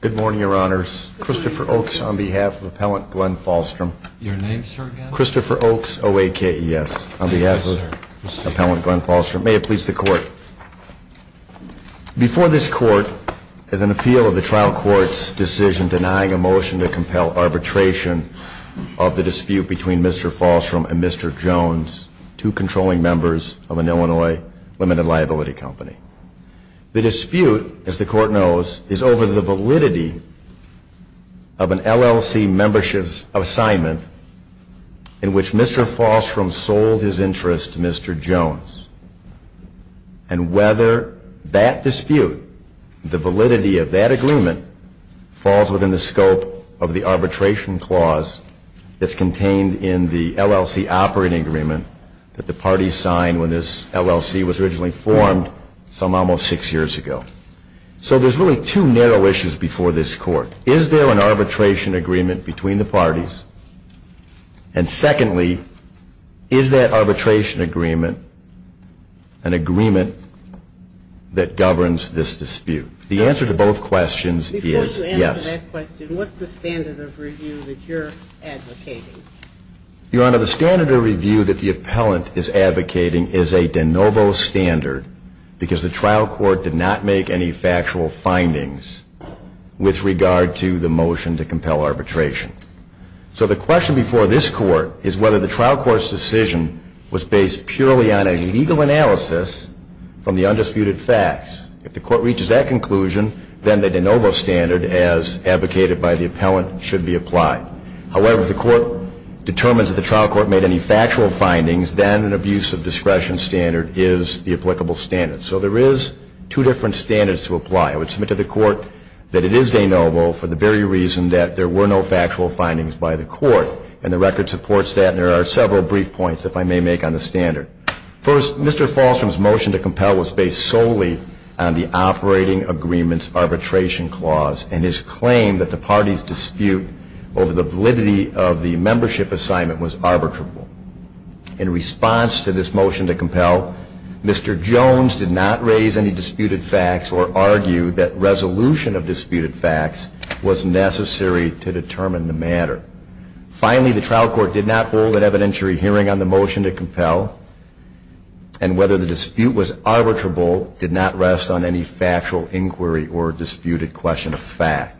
Good morning, your honors. Christopher Oaks on behalf of Appellant Glenn Fahlstrom. Your name, sir, again? Christopher Oaks, O-A-K-E-S, on behalf of Appellant Glenn Fahlstrom. May it please the court. Before this court, as an appeal of the trial court's decision denying a motion to compel arbitration of the dispute between Mr. Fahlstrom and Mr. Jones, two controlling members of an Illinois limited liability company, the dispute, as the court knows, is over the validity of an LLC membership assignment in which Mr. Fahlstrom sold his interest to Mr. Jones. And whether that dispute, the validity of that agreement, falls within the scope of the arbitration clause that's contained in the LLC operating agreement that the parties signed when this LLC was originally formed some almost six years ago. So there's really two narrow issues before this court. Is there an arbitration agreement between the parties? And secondly, is that arbitration agreement an agreement that governs this dispute? The answer to both questions is yes. Your honor, the standard of review that the appellant is advocating is a de novo standard, because the trial court did not make any factual findings with regard to the So the question before this court is whether the trial court's decision was based purely on a legal analysis from the undisputed facts. If the court reaches that conclusion, then the de novo standard, as advocated by the appellant, should be applied. However, if the court determines that the trial court made any factual findings, then an abuse of discretion standard is the applicable standard. So there is two different standards to apply. I would submit to the court that it is de novo for the very reason that there were no factual findings by the court. And the record supports that. And there are several brief points, if I may make, on the standard. First, Mr. Falstrom's motion to compel was based solely on the operating agreement's arbitration clause and his claim that the party's dispute over the validity of the membership assignment was arbitrable. In response to this motion to compel, Mr. Jones did not raise any disputed facts or argue that resolution of disputed facts was necessary to determine the matter. Finally, the trial court did not hold an evidentiary hearing on the motion to compel. And whether the dispute was arbitrable did not rest on any factual inquiry or disputed question of fact.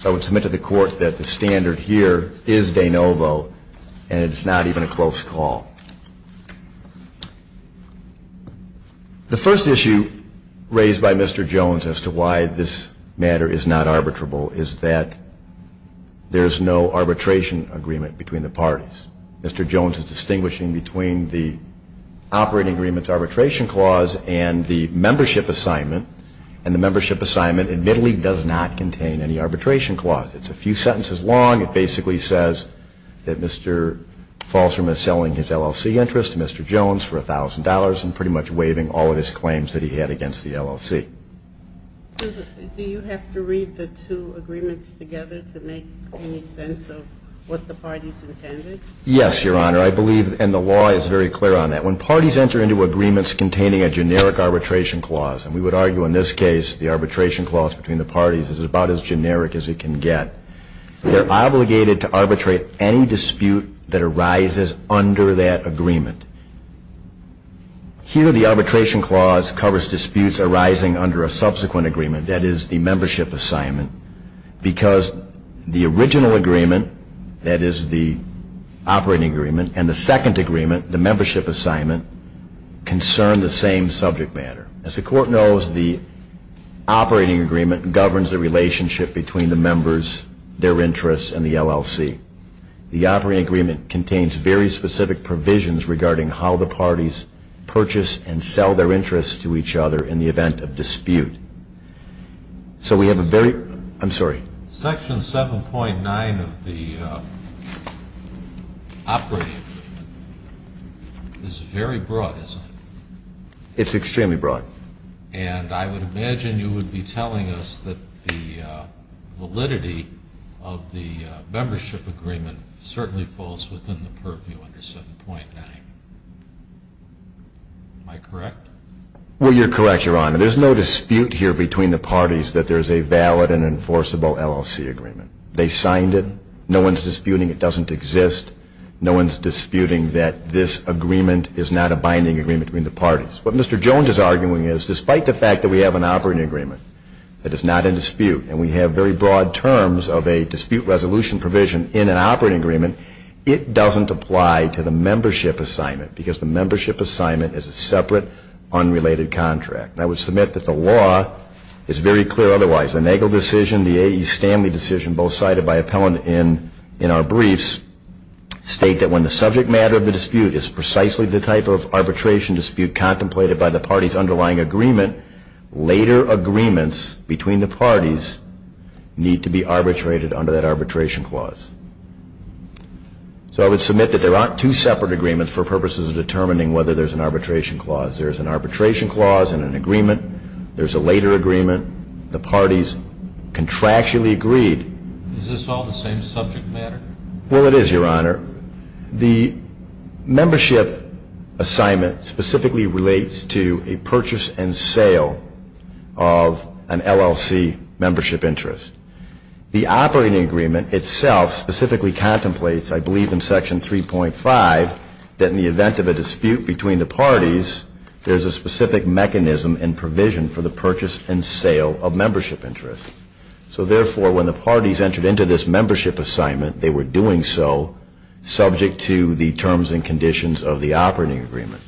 So I would submit to the court that the standard here is de novo, and it is not even a close call. The first issue raised by Mr. Jones as to why this matter is not arbitrable is that there is no arbitration agreement between the parties. Mr. Jones is distinguishing between the operating agreement's arbitration clause and the membership assignment. And the membership assignment admittedly does not contain any arbitration clause. It's a few sentences long. It basically says that Mr. Jones did not raise any disputed facts or argue that resolution of dispute over the validity of the membership assignment was necessary to determine the matter. And the second issue raised is why Mr. Jones is not arbitrary in the case of the motion to compel. It's a few sentences long. It basically says that Mr. Jones does not raise any disputed facts or argue that resolution of dispute over the membership assignment does not contain any arbitration clause. And the third issue raises any dispute that arises under that agreement. Here the arbitration clause covers disputes arising under a subsequent agreement, that is, the membership assignment, because the original agreement, that is, the operating agreement, and the second agreement, the membership assignment, concern the same subject matter. As the Court knows, the operating agreement governs the The operating agreement contains very specific provisions regarding how the parties purchase and sell their interests to each other in the event of dispute. So we have a very, I'm sorry. Section 7.9 of the operating agreement is very broad, isn't it? It's extremely broad. And I would imagine you would be telling us that the validity of the membership agreement certainly falls within the purview under 7.9. Am I correct? Well, you're correct, Your Honor. There's no dispute here between the parties that there's a valid and enforceable LLC agreement. They signed it. No one's disputing it doesn't exist. No one's disputing that this agreement is not a binding agreement between the parties. What Mr. Jones is arguing is, despite the fact that we have an operating agreement that is not in dispute, and we have very broad terms of a dispute resolution provision in an operating agreement, it doesn't apply to the membership assignment, because the membership assignment is a separate, unrelated contract. And I would submit that the law is very clear otherwise. The Nagel decision, the A.E. Stanley decision, both cited by appellant in our briefs, state that when the subject matter of the dispute is precisely the type of arbitration dispute contemplated by the party's underlying agreement, later agreements between the parties need to be arbitrated under that arbitration clause. So I would submit that there aren't two separate agreements for purposes of determining whether there's an arbitration clause. There's an arbitration clause and an agreement. There's a later agreement. The parties contractually agreed. Is this all the same subject matter? Well, it is, Your Honor. The membership assignment specifically relates to a purchase and sale of an LLC membership interest. The operating agreement itself specifically contemplates, I believe in Section 3.5, that in the event of a dispute between the parties, there's a specific mechanism and provision for the purchase and sale of membership interest. So therefore, when the parties entered into this membership assignment, they were doing so subject to the terms and conditions of the operating agreement.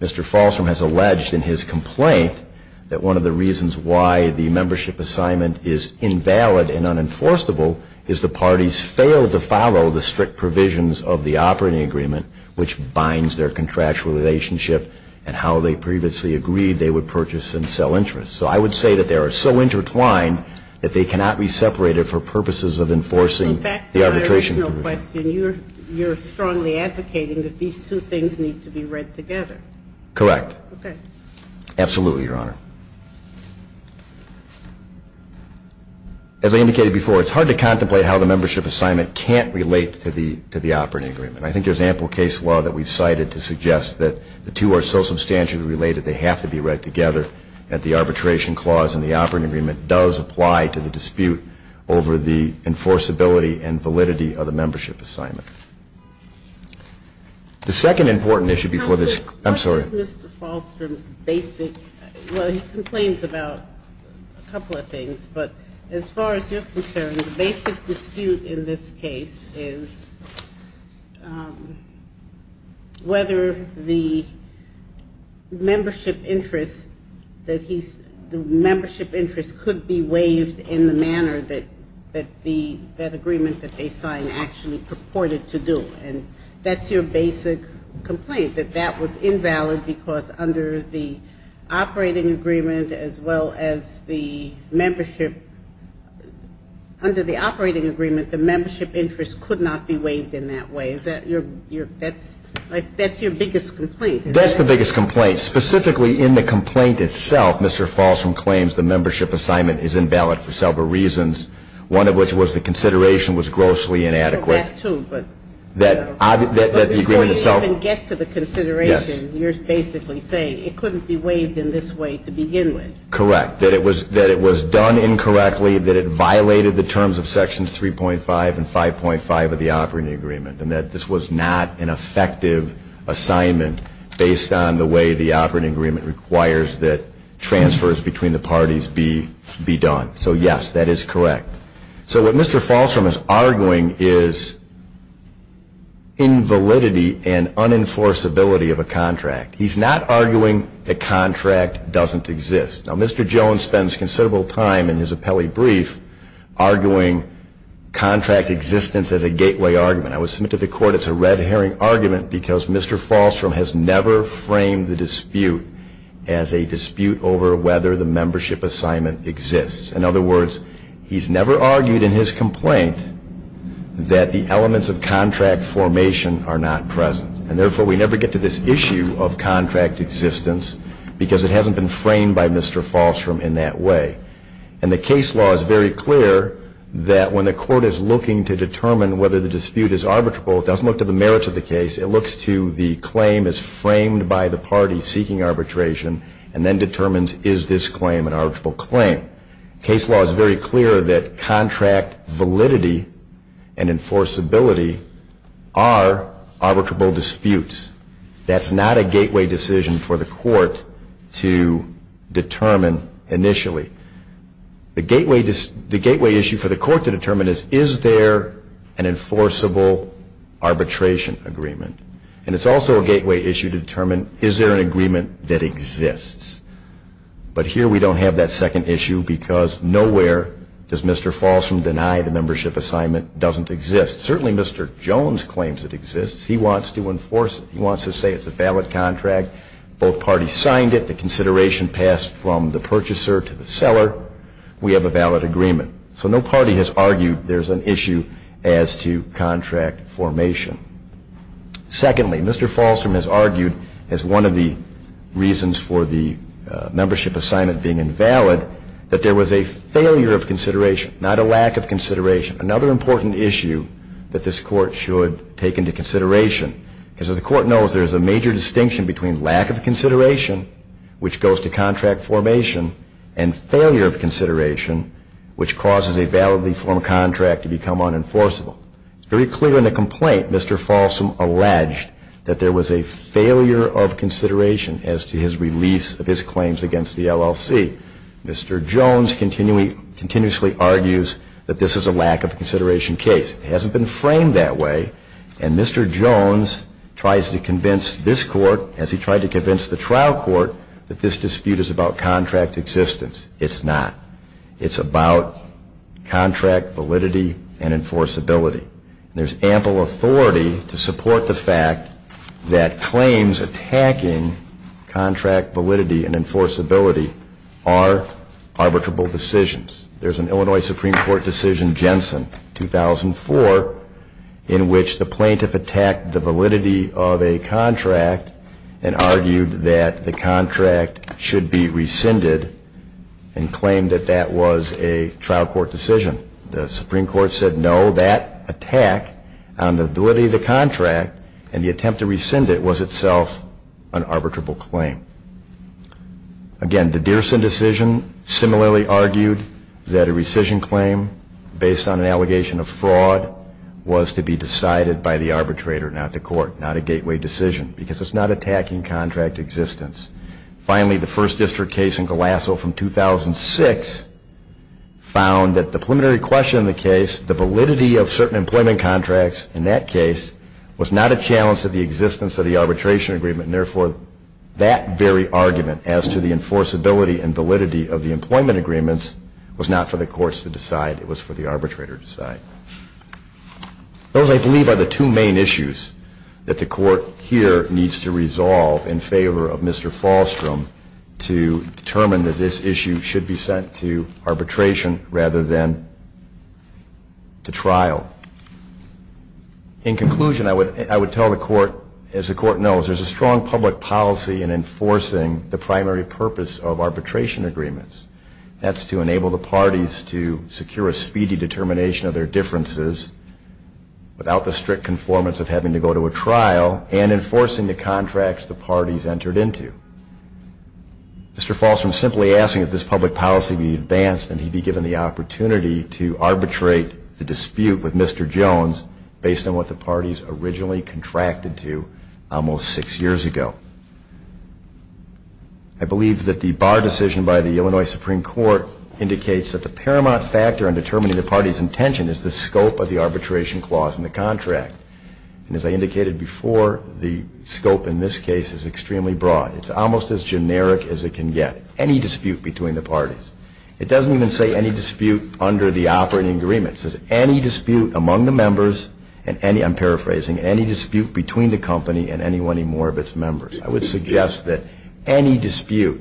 Mr. Falstrom has alleged in his complaint that one of the reasons why the membership assignment is invalid and unenforceable is the parties failed to follow the strict provisions of the operating agreement, which binds their contractual relationship and how they previously agreed they purchase and sell interest. So I would say that they are so intertwined that they cannot be separated for purposes of enforcing the arbitration provision. So back to the original question. You're strongly advocating that these two things need to be read together. Correct. Absolutely, Your Honor. As I indicated before, it's hard to contemplate how the membership assignment can't relate to the operating agreement. I think there's ample case law that we've cited to suggest that the two are so substantially related, they have to be read together, that the arbitration clause in the operating agreement does apply to the dispute over the enforceability and validity of the membership assignment. The second important issue before this... Counselor, what is Mr. Falstrom's basic... Well, he complains about a couple of things, but as far as you're concerned, the basic dispute in this case is whether the membership interest that he's... the membership interest could be waived in the manner that the... that agreement that they signed actually purported to do. And that's your basic complaint, that that was invalid because under the operating agreement, as well as the membership... under the operating agreement, the membership interest could not be waived in the manner that it was originally intended to be waived in that way. Is that your... that's your biggest complaint? That's the biggest complaint. Specifically in the complaint itself, Mr. Falstrom claims the membership assignment is invalid for several reasons, one of which was the consideration was grossly inadequate. That too, but... that the agreement itself... But before you even get to the consideration, you're basically saying it couldn't be waived in this way to begin with. Correct. That it was done incorrectly, that it violated the operating agreement, and that this was not an effective assignment based on the way the operating agreement requires that transfers between the parties be... be done. So yes, that is correct. So what Mr. Falstrom is arguing is invalidity and unenforceability of a contract. He's not arguing the contract doesn't exist. Now, Mr. Jones spends considerable time in his I would submit to the Court it's a red herring argument because Mr. Falstrom has never framed the dispute as a dispute over whether the membership assignment exists. In other words, he's never argued in his complaint that the elements of contract formation are not present. And therefore, we never get to this issue of contract existence because it hasn't been framed by Mr. Falstrom in that way. And the case law is very clear that when the Court is looking to determine whether the dispute is arbitrable, it doesn't look to the merits of the case. It looks to the claim as framed by the party seeking arbitration and then determines is this claim an arbitrable claim. Case law is very clear that contract validity and enforceability are arbitrable disputes. That's not a gateway decision for the Court to determine initially. The gateway issue for the Court to determine is is there an enforceable arbitration agreement. And it's also a gateway issue to determine is there an agreement that exists. But here we don't have that second issue because nowhere does Mr. Falstrom deny the membership assignment doesn't exist. Certainly Mr. Jones claims it exists. He wants to enforce it. He wants to say it's a valid contract. Both parties signed it. The consideration passed from the purchaser to the seller. We have a valid agreement. So no party has argued there's an issue as to contract formation. Secondly, Mr. Falstrom has argued as one of the reasons for the membership assignment being invalid that there was a failure of consideration, not a lack of consideration, another important issue that this Court should take into consideration. Because as the Court knows, there's a major distinction between lack of consideration, which goes to contract formation, and failure of consideration, which causes a validly formed contract to become unenforceable. It's very clear in the complaint Mr. Falstrom alleged that there was a failure of consideration as to his release of his claims against the LLC. Mr. Jones continually continuously argues that this is a lack of consideration case. It hasn't been framed that way. And Mr. Jones tries to convince this Court, as he tried to convince the trial court, that this dispute is about contract existence. It's not. It's about contract validity and enforceability. There's ample authority to support the fact that claims attacking contract validity and enforceability are arbitrable decisions. There's an Illinois Supreme Court decision, Jensen, 2004, in which the plaintiff attacked the validity of a contract and argued that the contract should be rescinded and claimed that that was a trial court decision. The Supreme Court said no, that attack on the validity of the contract and the attempt to rescind it was itself an arbitrable claim. Again, the Deerson decision similarly argued that a rescission claim based on an allegation of fraud was to be decided by the arbitrator, not the court, not a gateway decision, because it's not attacking contract existence. Finally, the First District case in Colasso from 2006 found that the preliminary question in the case, the validity of certain employment contracts in that case, was not a challenge to the existence of the arbitration agreement. Therefore, that very argument as to the enforceability and validity of the employment agreements was not for the courts to decide. It was for the arbitrator to decide. Those, I believe, are the two main issues that the court here needs to resolve in favor of Mr. Falstrom to determine that this issue should be sent to arbitration rather than to trial. In conclusion, I would tell the court, as the court knows, there's a strong public policy in enforcing the primary purpose of arbitration agreements. That's to enable the determination of their differences without the strict conformance of having to go to a trial and enforcing the contracts the parties entered into. Mr. Falstrom simply asking if this public policy be advanced and he be given the opportunity to arbitrate the dispute with Mr. Jones based on what the parties originally contracted to almost six years ago. I believe that the Barr decision by the Illinois Supreme Court indicates that the paramount factor in determining the party's intention is the scope of the arbitration clause in the contract. And as I indicated before, the scope in this case is extremely broad. It's almost as generic as it can get. Any dispute between the parties. It doesn't even say any dispute under the operating agreements. It says any dispute among the members and any, I'm paraphrasing, any dispute between the company and any one or more of its members. I would suggest that any dispute,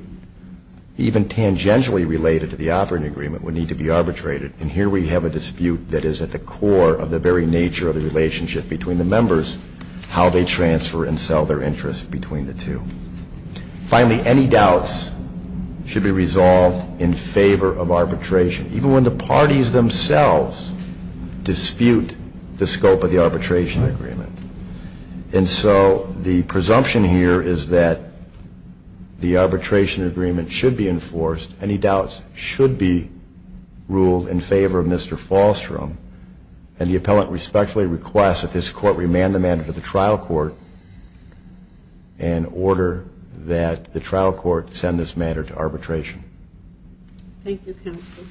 even tangentially related to the operating agreement, would need to be arbitrated. And here we have a dispute that is at the core of the very nature of the relationship between the members, how they transfer and sell their interest between the two. Finally, any doubts should be resolved in favor of arbitration, even when the parties themselves dispute the scope of the arbitration agreement. And so the presumption here is that the arbitration agreement should be enforced. Any doubts should be ruled in favor of Mr. Falstrom. And the appellant respectfully requests that this court remand the matter to the trial court in order that the trial court send this matter to arbitration. Thank you, counsel.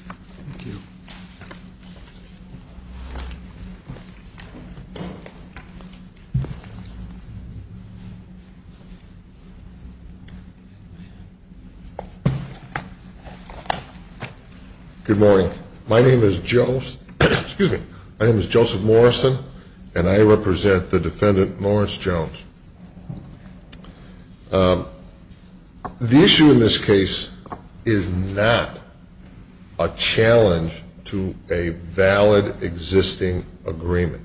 Good morning. My name is Joseph Morrison and I represent the defendant Lawrence Jones. The issue in this case is not a challenge to a valid existing agreement.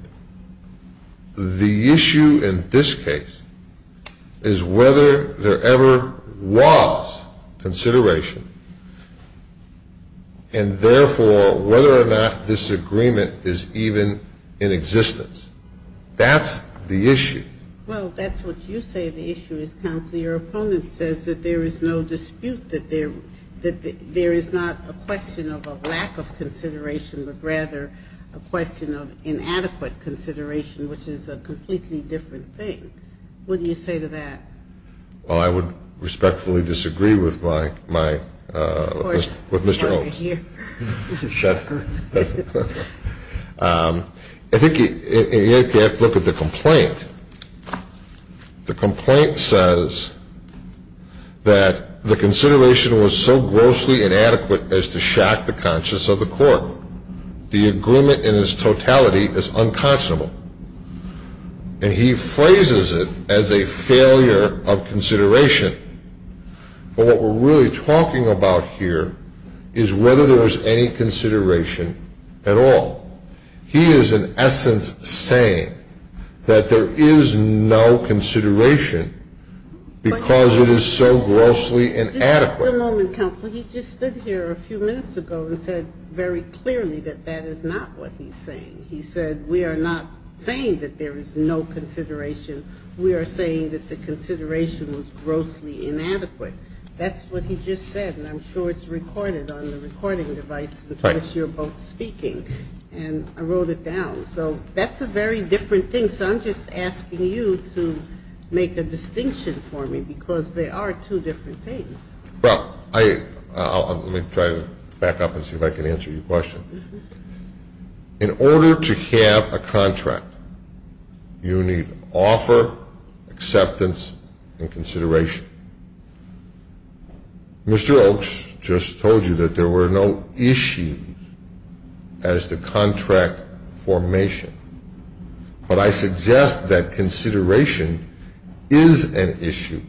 The issue in this case is whether there ever was consideration and therefore whether or not this agreement is even in existence. That's the issue. Well, that's what you say the issue is, counsel. Your opponent says that there is no dispute, that there is not a question of a lack of consideration, but rather a question of inadequate consideration, which is a completely different thing. What do you say to that? Well, I would respectfully disagree with my, with Mr. Holmes. I think you have to look at the complaint. The complaint says that the consideration was so grossly inadequate as to shock the conscience of the court. The agreement in its totality is unconscionable. And he phrases it as a failure of consideration. But what we're really talking about here is whether there was any consideration at all. He is in essence saying that there is no consideration because it is so grossly inadequate. Just a moment, counsel. He just stood here a few minutes ago and said very clearly that that is not what he's saying. He said we are not saying that there is no consideration. We are saying that the consideration was grossly inadequate. That's what he just said. And I'm sure it's recorded on the recording device with which you're both speaking. And I wrote it down. So that's a very different thing. So I'm just asking you to make a distinction for me because they are two different things. Well, I, let me try to back up and see if I can answer your question. In order to have a contract, you need offer, acceptance, and consideration. Mr. Oaks just told you that there were no issues as to contract formation. But I suggest that consideration is an issue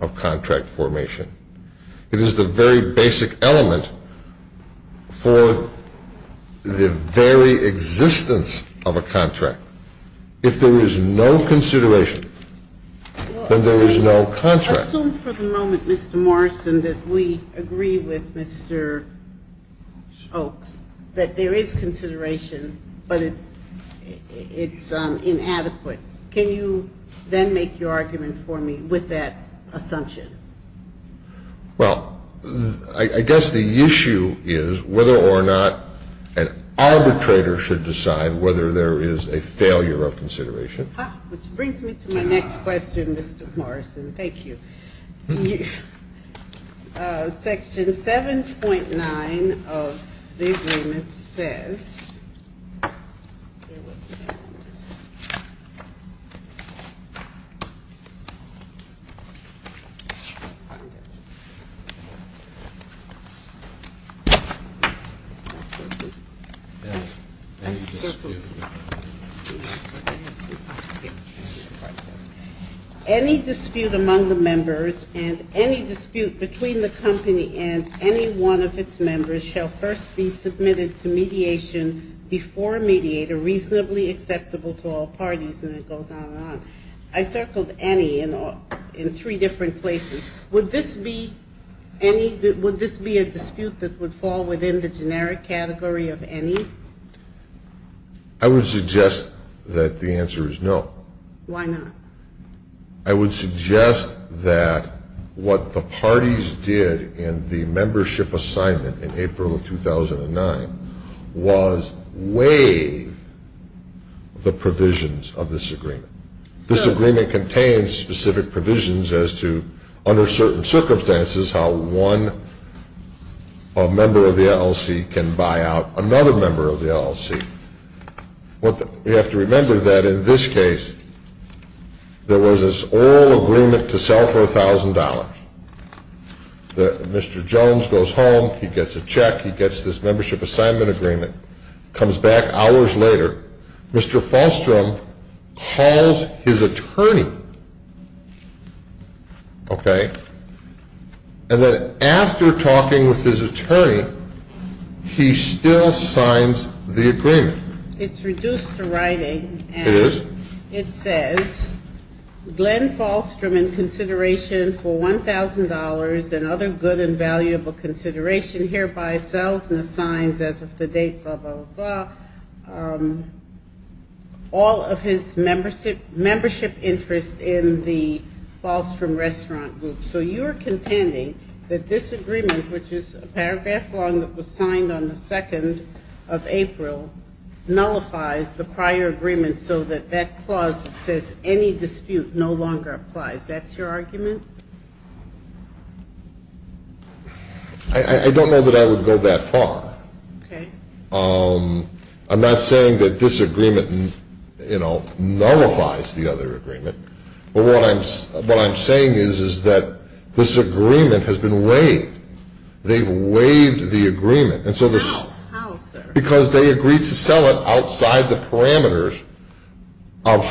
of contract formation. It is the very basic element for the very existence of a contract. If there is no consideration, then there is no contract. Assume for the moment, Mr. Morrison, that we agree with Mr. Oaks that there is consideration, but it's, it's inadequate. Can you then make your argument for me with that assumption? Well, I guess the issue is whether or not an arbitrator should decide whether there is a failure of consideration. Which brings me to my next question, Mr. Morrison. Thank you. Section 7.9 of the agreement says Any dispute among the members and any dispute between the company and any one of its members shall first be submitted to mediation before a mediator reasonably acceptable to all parties. And it goes on and on. I circled any in three different places. Would this be any, would this be a dispute that would fall within the generic category of any? I would suggest that the answer is no. Why not? I would suggest that what the parties did in the membership assignment in April of 2009 was waive the provisions of this agreement. This agreement contains specific provisions as to, under certain circumstances, how one member of the LLC can buy out another member of the LLC. What we have to remember that in this case, there was this oral agreement to sell for $1,000. Mr. Jones goes home, he gets a check, he gets this membership assignment agreement, comes back hours later, Mr. Falstrom calls his attorney, okay, and then after talking with his attorney, he still signs the agreement. It's reduced to writing. It is? It says, Glenn Falstrom, in consideration for $1,000 and other good and valuable consideration, hereby sells and assigns, as of the date, blah, blah, blah, all of his membership interest in the Falstrom Restaurant Group. So you are contending that this agreement, which is a paragraph long that was signed on the 2nd of April, nullifies the agreement? I don't know that I would go that far. I'm not saying that this agreement nullifies the other agreement, but what I'm saying is that this agreement has been waived. They've waived the agreement. How, sir? Because they agreed to sell it outside the parameters of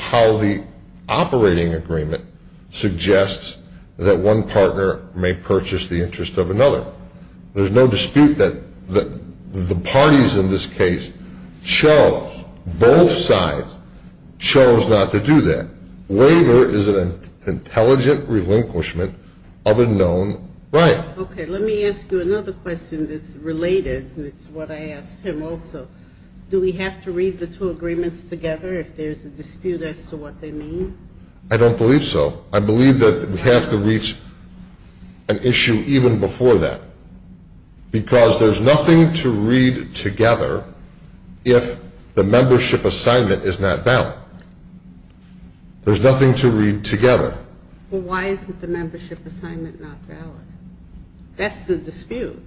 how the operating agreement suggests that one partner may purchase the interest of another. There's no dispute that the parties in this case chose, both sides chose not to do that. Waiver is an intelligent relinquishment of a known right. Okay, let me ask you another question that's related. It's what I asked him also. Do we have to read the two agreements together if there's a dispute as to what they mean? I don't believe so. I believe that we have to reach an issue even before that, because there's nothing to read together if the membership assignment is not valid. There's nothing to read together. Well, why isn't the membership assignment not valid? That's the dispute.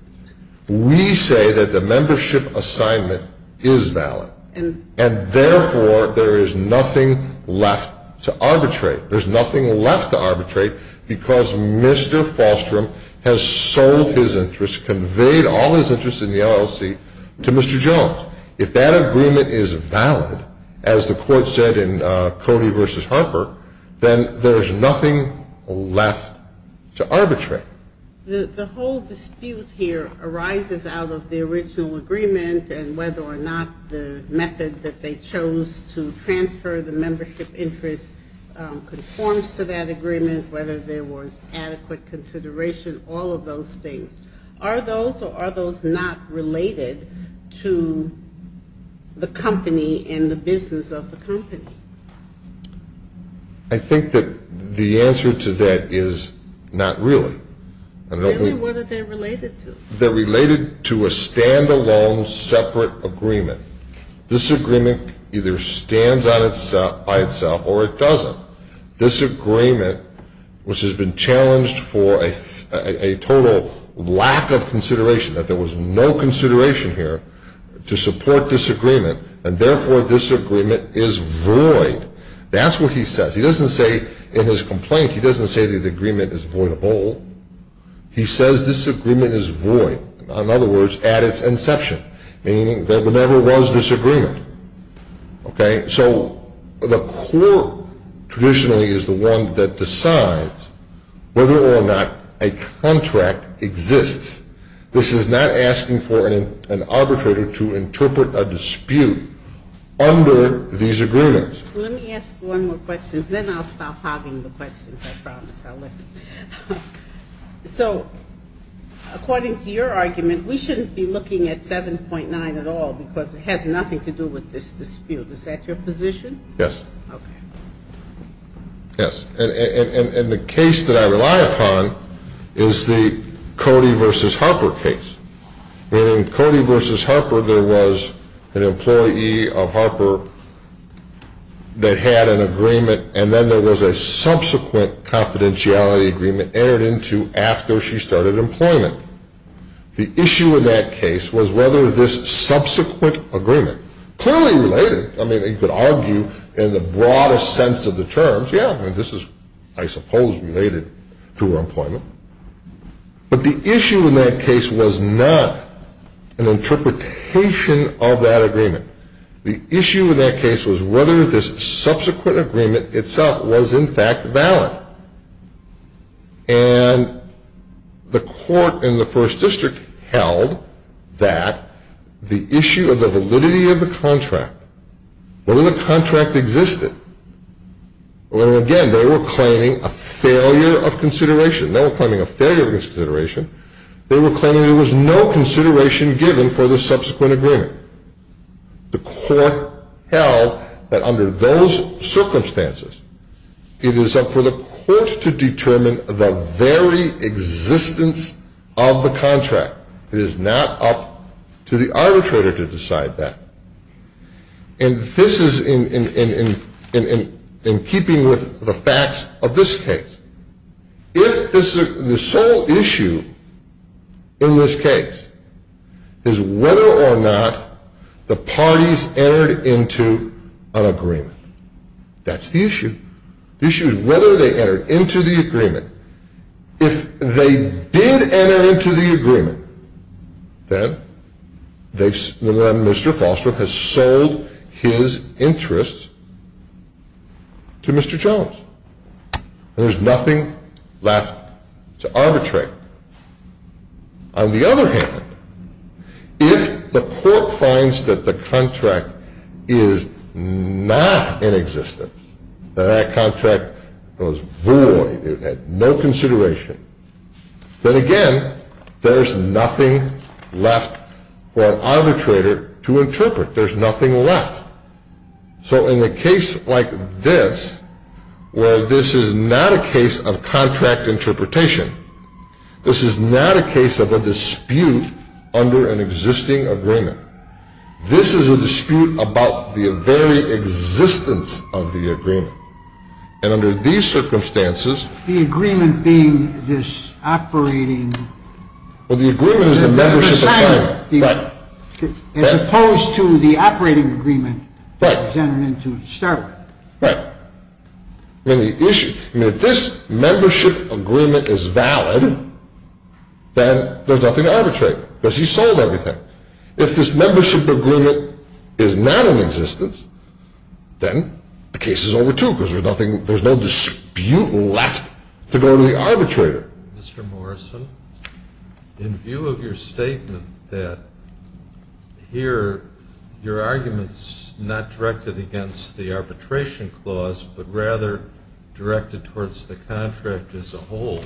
We say that the membership assignment is valid, and therefore, there is nothing left to arbitrate. There's nothing left to arbitrate because Mr. Falstrom has sold his interest, conveyed all his interest in the LLC to Mr. Jones. If that agreement is valid, as the court said in Cody v. Harper, then there's nothing left to arbitrate. The whole dispute here arises out of the original agreement and whether or not the method that they chose to transfer the membership interest conforms to that agreement, whether there was adequate consideration, all of those things. Are those or are those not related to the company and the business of the company? I think that the answer to that is not really. Really? What are they related to? They're related to a standalone, separate agreement. This agreement either stands by itself or it doesn't. This agreement, which has been challenged for a total lack of consideration, that there was no consideration here to support this agreement, and therefore, this agreement is void. That's what he says. He doesn't say in his complaint, he doesn't say that the agreement is voidable. He says this agreement is void. In other words, at its inception, meaning there never was this agreement. So the court traditionally is the one that decides whether or not a contract exists. This is not asking for an arbitrator to interpret a dispute under these agreements. Let me ask one more question, then I'll stop hogging the questions, I promise. So according to your argument, we shouldn't be looking at 7.9 at all, because it has nothing to do with this dispute. Is that your position? Yes. Okay. Yes. And the case that I rely upon is the Cody v. Harper case. In Cody v. Harper, there was an employee of Harper that had an agreement, and then there was a subsequent confidentiality agreement entered into after she started employment. The issue in that case was whether this subsequent agreement, clearly related, I mean, you could argue in the broadest sense of terms, yeah, I mean, this is, I suppose, related to her employment. But the issue in that case was not an interpretation of that agreement. The issue in that case was whether this subsequent agreement itself was in fact valid. And the court in the first district held that the issue of the Well, again, they were claiming a failure of consideration. They were claiming a failure of consideration. They were claiming there was no consideration given for the subsequent agreement. The court held that under those circumstances, it is up for the court to determine the very existence of the contract. It is not up to the arbitrator to decide that. And this is in keeping with the facts of this case. The sole issue in this case is whether or not the parties entered into an agreement. That's the issue. The issue is whether they entered into the agreement. If they did enter into the agreement, then Mr. Foster has sold his interests to Mr. Jones. There's nothing left to arbitrate. On the other hand, if the court finds that the contract is not in existence, that that contract was void, it had no consideration, then again, there's nothing left for an arbitrator to interpret. There's nothing left. So in a case like this, where this is not a case of contract interpretation, this is not a case of a dispute under an existing agreement. This is a dispute about the very existence of the agreement. And under these circumstances, the agreement being this operating... Well, the agreement is the membership assignment. Right. As opposed to the operating agreement that was entered into to start with. Right. I mean, if this membership agreement is valid, then there's nothing to arbitrate, because he sold everything. If this membership agreement is not in existence, then the case is over too, because there's no dispute left to go to the arbitrator. Mr. Morrison, in view of your statement that here your argument is not directed against the arbitration clause, but rather directed towards the contract as a whole,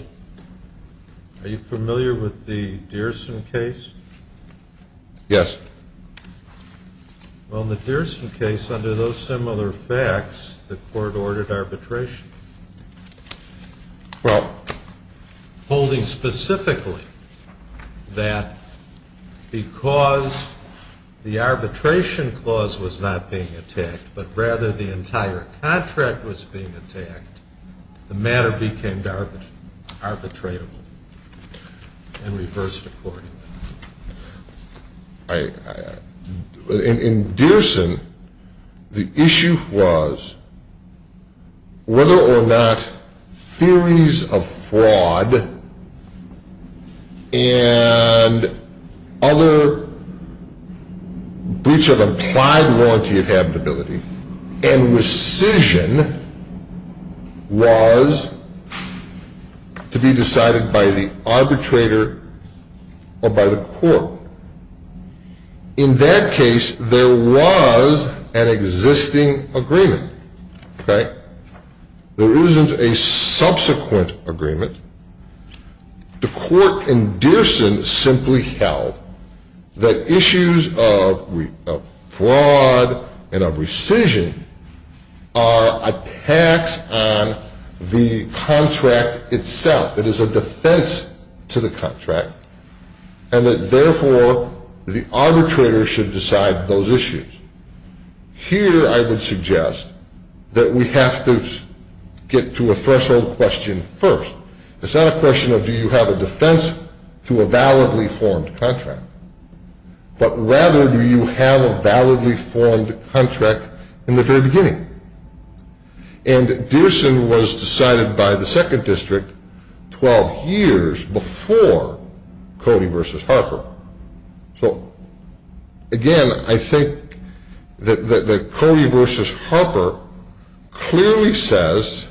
are you familiar with the Deerson case? Yes. Well, in the Deerson case, under those similar facts, the court ordered arbitration. Well, holding specifically that because the arbitration clause was not being attacked, but rather the entire contract was being attacked, the matter became arbitratable and reversed accordingly. In Deerson, the issue was whether or not theories of fraud and other breaches of implied warranty of habitability and rescission was to be decided by the arbitrator or by the court. In that case, there was an existing agreement. Okay. There isn't a subsequent agreement. The court in Deerson simply held that issues of fraud and of rescission are attacks on the contract itself. It is a defense to the contract, and that therefore the arbitrator should decide those issues. Here, I would suggest that we have to get to a threshold question first. It's not a question of do you have a defense to a validly formed contract, but rather do you have a validly formed contract in the very beginning? And Deerson was decided by the second district 12 years before Cody v. Harper. So, again, I think that Cody v. Harper clearly says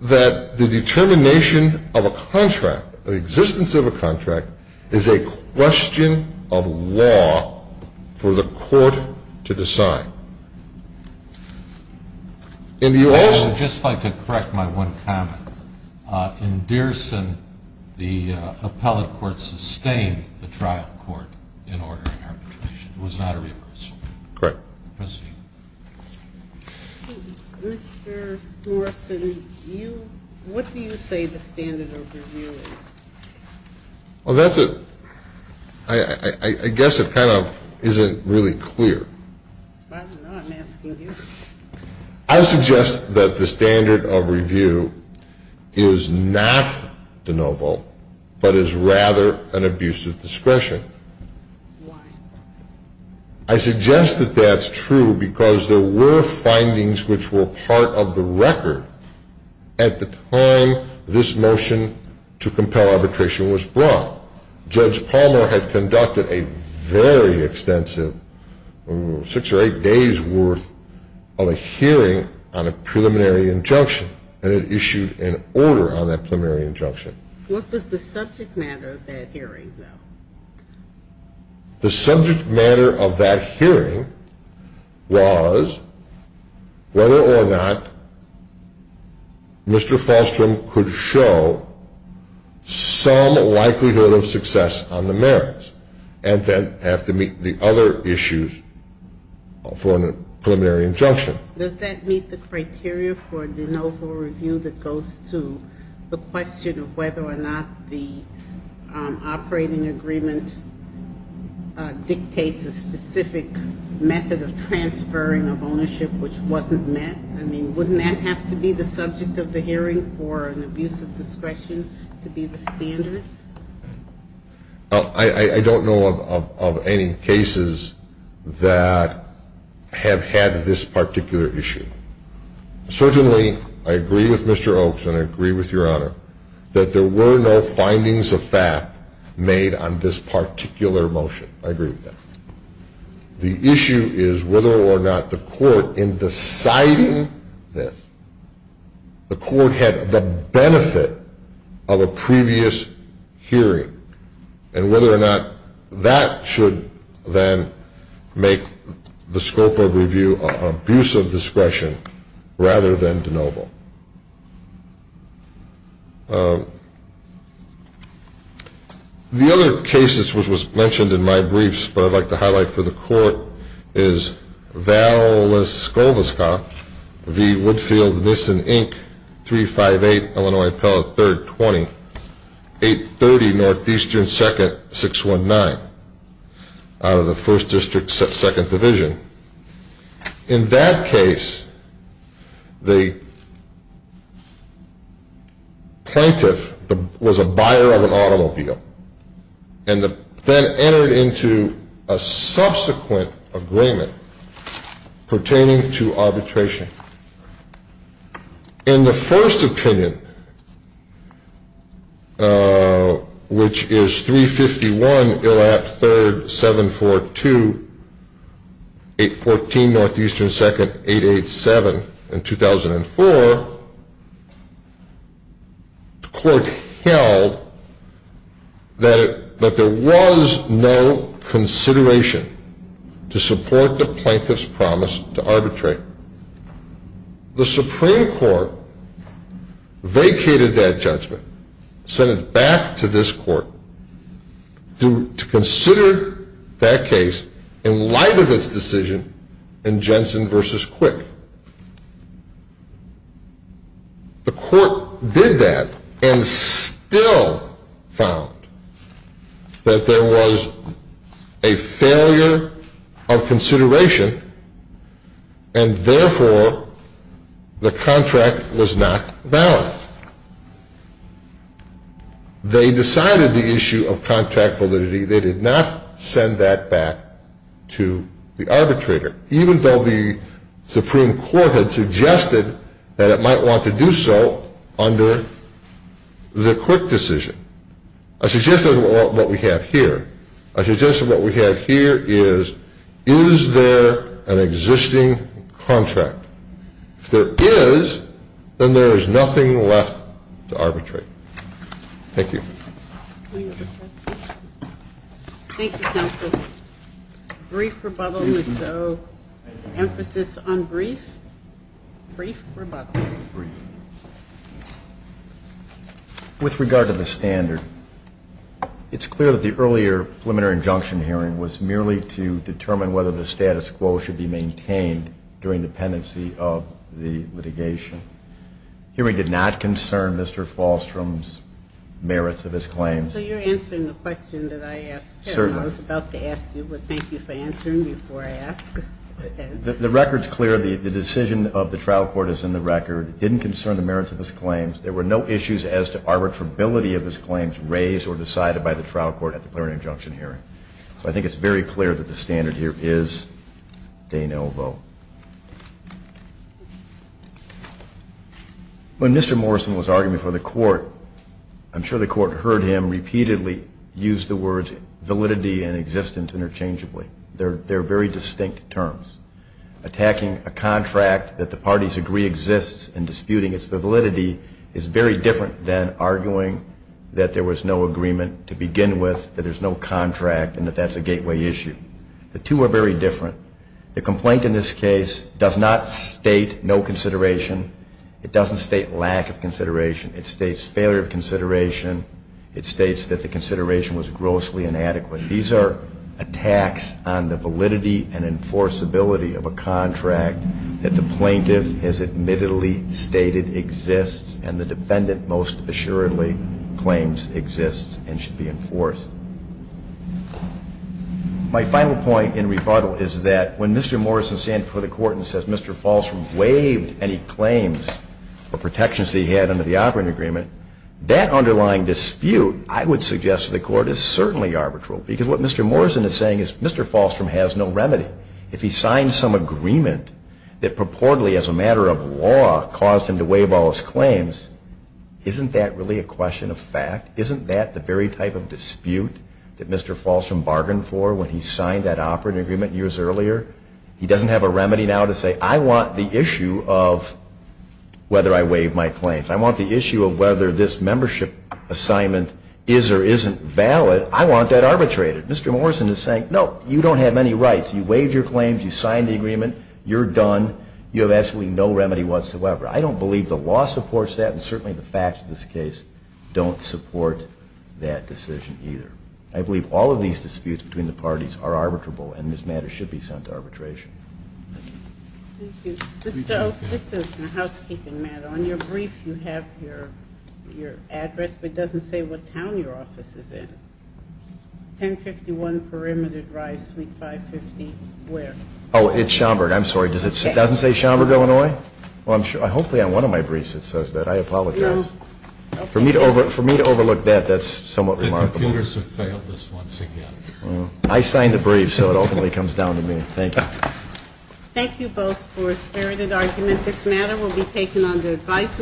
that the determination of a contract, the existence of a contract, is a question of law for the court to decide. I would just like to correct my one comment. In Deerson, the appellate court sustained the trial court in ordering arbitration. It was not a reverse. Correct. Mr. Dorsen, what do you say the standard of review is? Well, that's a, I guess it kind of isn't really clear. I'm asking you. I suggest that the standard of review is not de novo, but is rather an abuse of discretion. Why? I suggest that that's true because there were findings which were part of the record at the time this motion to compel arbitration was brought. Judge Palmer had conducted a very extensive six or eight days worth of a on a preliminary injunction, and it issued an order on that preliminary injunction. What was the subject matter of that hearing, though? The subject matter of that hearing was whether or not Mr. Falstrom could show some likelihood of success on the merits, and then have to meet the other issues for a preliminary injunction. Does that meet the criteria for de novo review that goes to the question of whether or not the operating agreement dictates a specific method of transferring of ownership which wasn't met? I mean, wouldn't that have to be the subject of the hearing for an abuse of discretion to be the standard? I don't know of any cases that have had this particular issue. Certainly, I agree with Mr. Oaks, and I agree with Your Honor, that there were no findings of fact made on this particular motion. I agree with that. The issue is whether or not the court, in deciding this, the court had the benefit of a previous hearing, and whether or not that should then make the scope of review an abuse of discretion rather than de novo. The other case that was mentioned in my briefs, but I'd like to highlight for the court, is Valeskovska v. Woodfield, Nissan, Inc., 358 Illinois Pellet, 3rd, 20, 830 Northeastern 2nd, 619 out of the 1st District, 2nd Division. In that case, the plaintiff was a buyer of an automobile, and then entered into a subsequent agreement pertaining to arbitration. In the first opinion, which is 351 Illap, 3rd, 742, 814 Northeastern 2nd, 887 in 2004, the court held that there was no consideration to support the plaintiff's promise to arbitrate. The Supreme Court vacated that judgment, sent it back to this court to consider that case in light of its decision in Jensen v. Quick. The court did that and still found that there was a failure of consideration, and therefore, the contract was not valid. Now, they decided the issue of contract validity. They did not send that back to the arbitrator, even though the Supreme Court had suggested that it might want to do so under the Quick decision. I suggested what we have here. I suggested what we have here is, is there an existing contract? If there is, then there is nothing left to arbitrate. Thank you. Thank you, counsel. Brief rebuttal, so emphasis on brief. Brief rebuttal. With regard to the standard, it's clear that the earlier preliminary injunction hearing was merely to determine whether the status quo should be maintained during the pendency of the litigation. The hearing did not concern Mr. Falstrom's merits of his claims. So you're answering the question that I asked. Certainly. I was about to ask you, but thank you for answering before I ask. The record's clear. The decision of the trial court is in the record. It didn't concern the merits of his claims. There were no issues as to arbitrability of his claims raised or decided by the trial court at the preliminary injunction hearing. So I think it's very clear that the standard here is de novo. When Mr. Morrison was arguing before the court, I'm sure the court heard him repeatedly use the words validity and existence interchangeably. They're very distinct terms. Attacking a contract that the parties agree exists and disputing its validity is very different than arguing that there was no agreement to begin with, that there's no contract, and that that's a gateway issue. The two are very different. The complaint in this case does not state no consideration. It doesn't state lack of consideration. It states failure of consideration. It states that the consideration was grossly inadequate. These are attacks on the validity and enforceability of a contract that the plaintiff has admittedly stated exists and the defendant most assuredly claims exists and should be enforced. My final point in rebuttal is that when Mr. Morrison stands before the court and says Mr. Falstrom waived any claims or protections that he had under the operating agreement, that underlying dispute, I would suggest to the court, is certainly arbitral. Because what Mr. Morrison is saying is Mr. Falstrom has no remedy. If he signs some agreement that purportedly as a matter of law caused him to waive all his claims, isn't that really a question of fact? Isn't that the very type of dispute that Mr. Falstrom bargained for when he signed that operating agreement years earlier? He doesn't have a remedy now to say I want the issue of whether I waived my claims. I want the issue of whether this membership assignment is or isn't valid. I want that arbitrated. Mr. Morrison is saying no, you don't have any rights. You waived your claims, you signed the agreement, you're done, you have absolutely no remedy whatsoever. I don't believe the law supports that and certainly the facts of this case don't support that decision either. I believe all of these disputes between the parties are arbitrable and this matter should be sent to arbitration. Thank you. Ms. Stokes, this is a housekeeping matter. On your brief you have your address but it doesn't say what town your office is in. 1051 Perimeter Drive, Suite 550, where? Oh, it's Schaumburg, I'm sorry. It doesn't say Schaumburg, Illinois? Hopefully on one of my briefs it says that. I apologize. For me to overlook that, that's somewhat remarkable. The computers have failed us once again. I signed the brief so it ultimately comes down to me. Thank you. Thank you both for a spirited argument. This matter will be taken under advisory.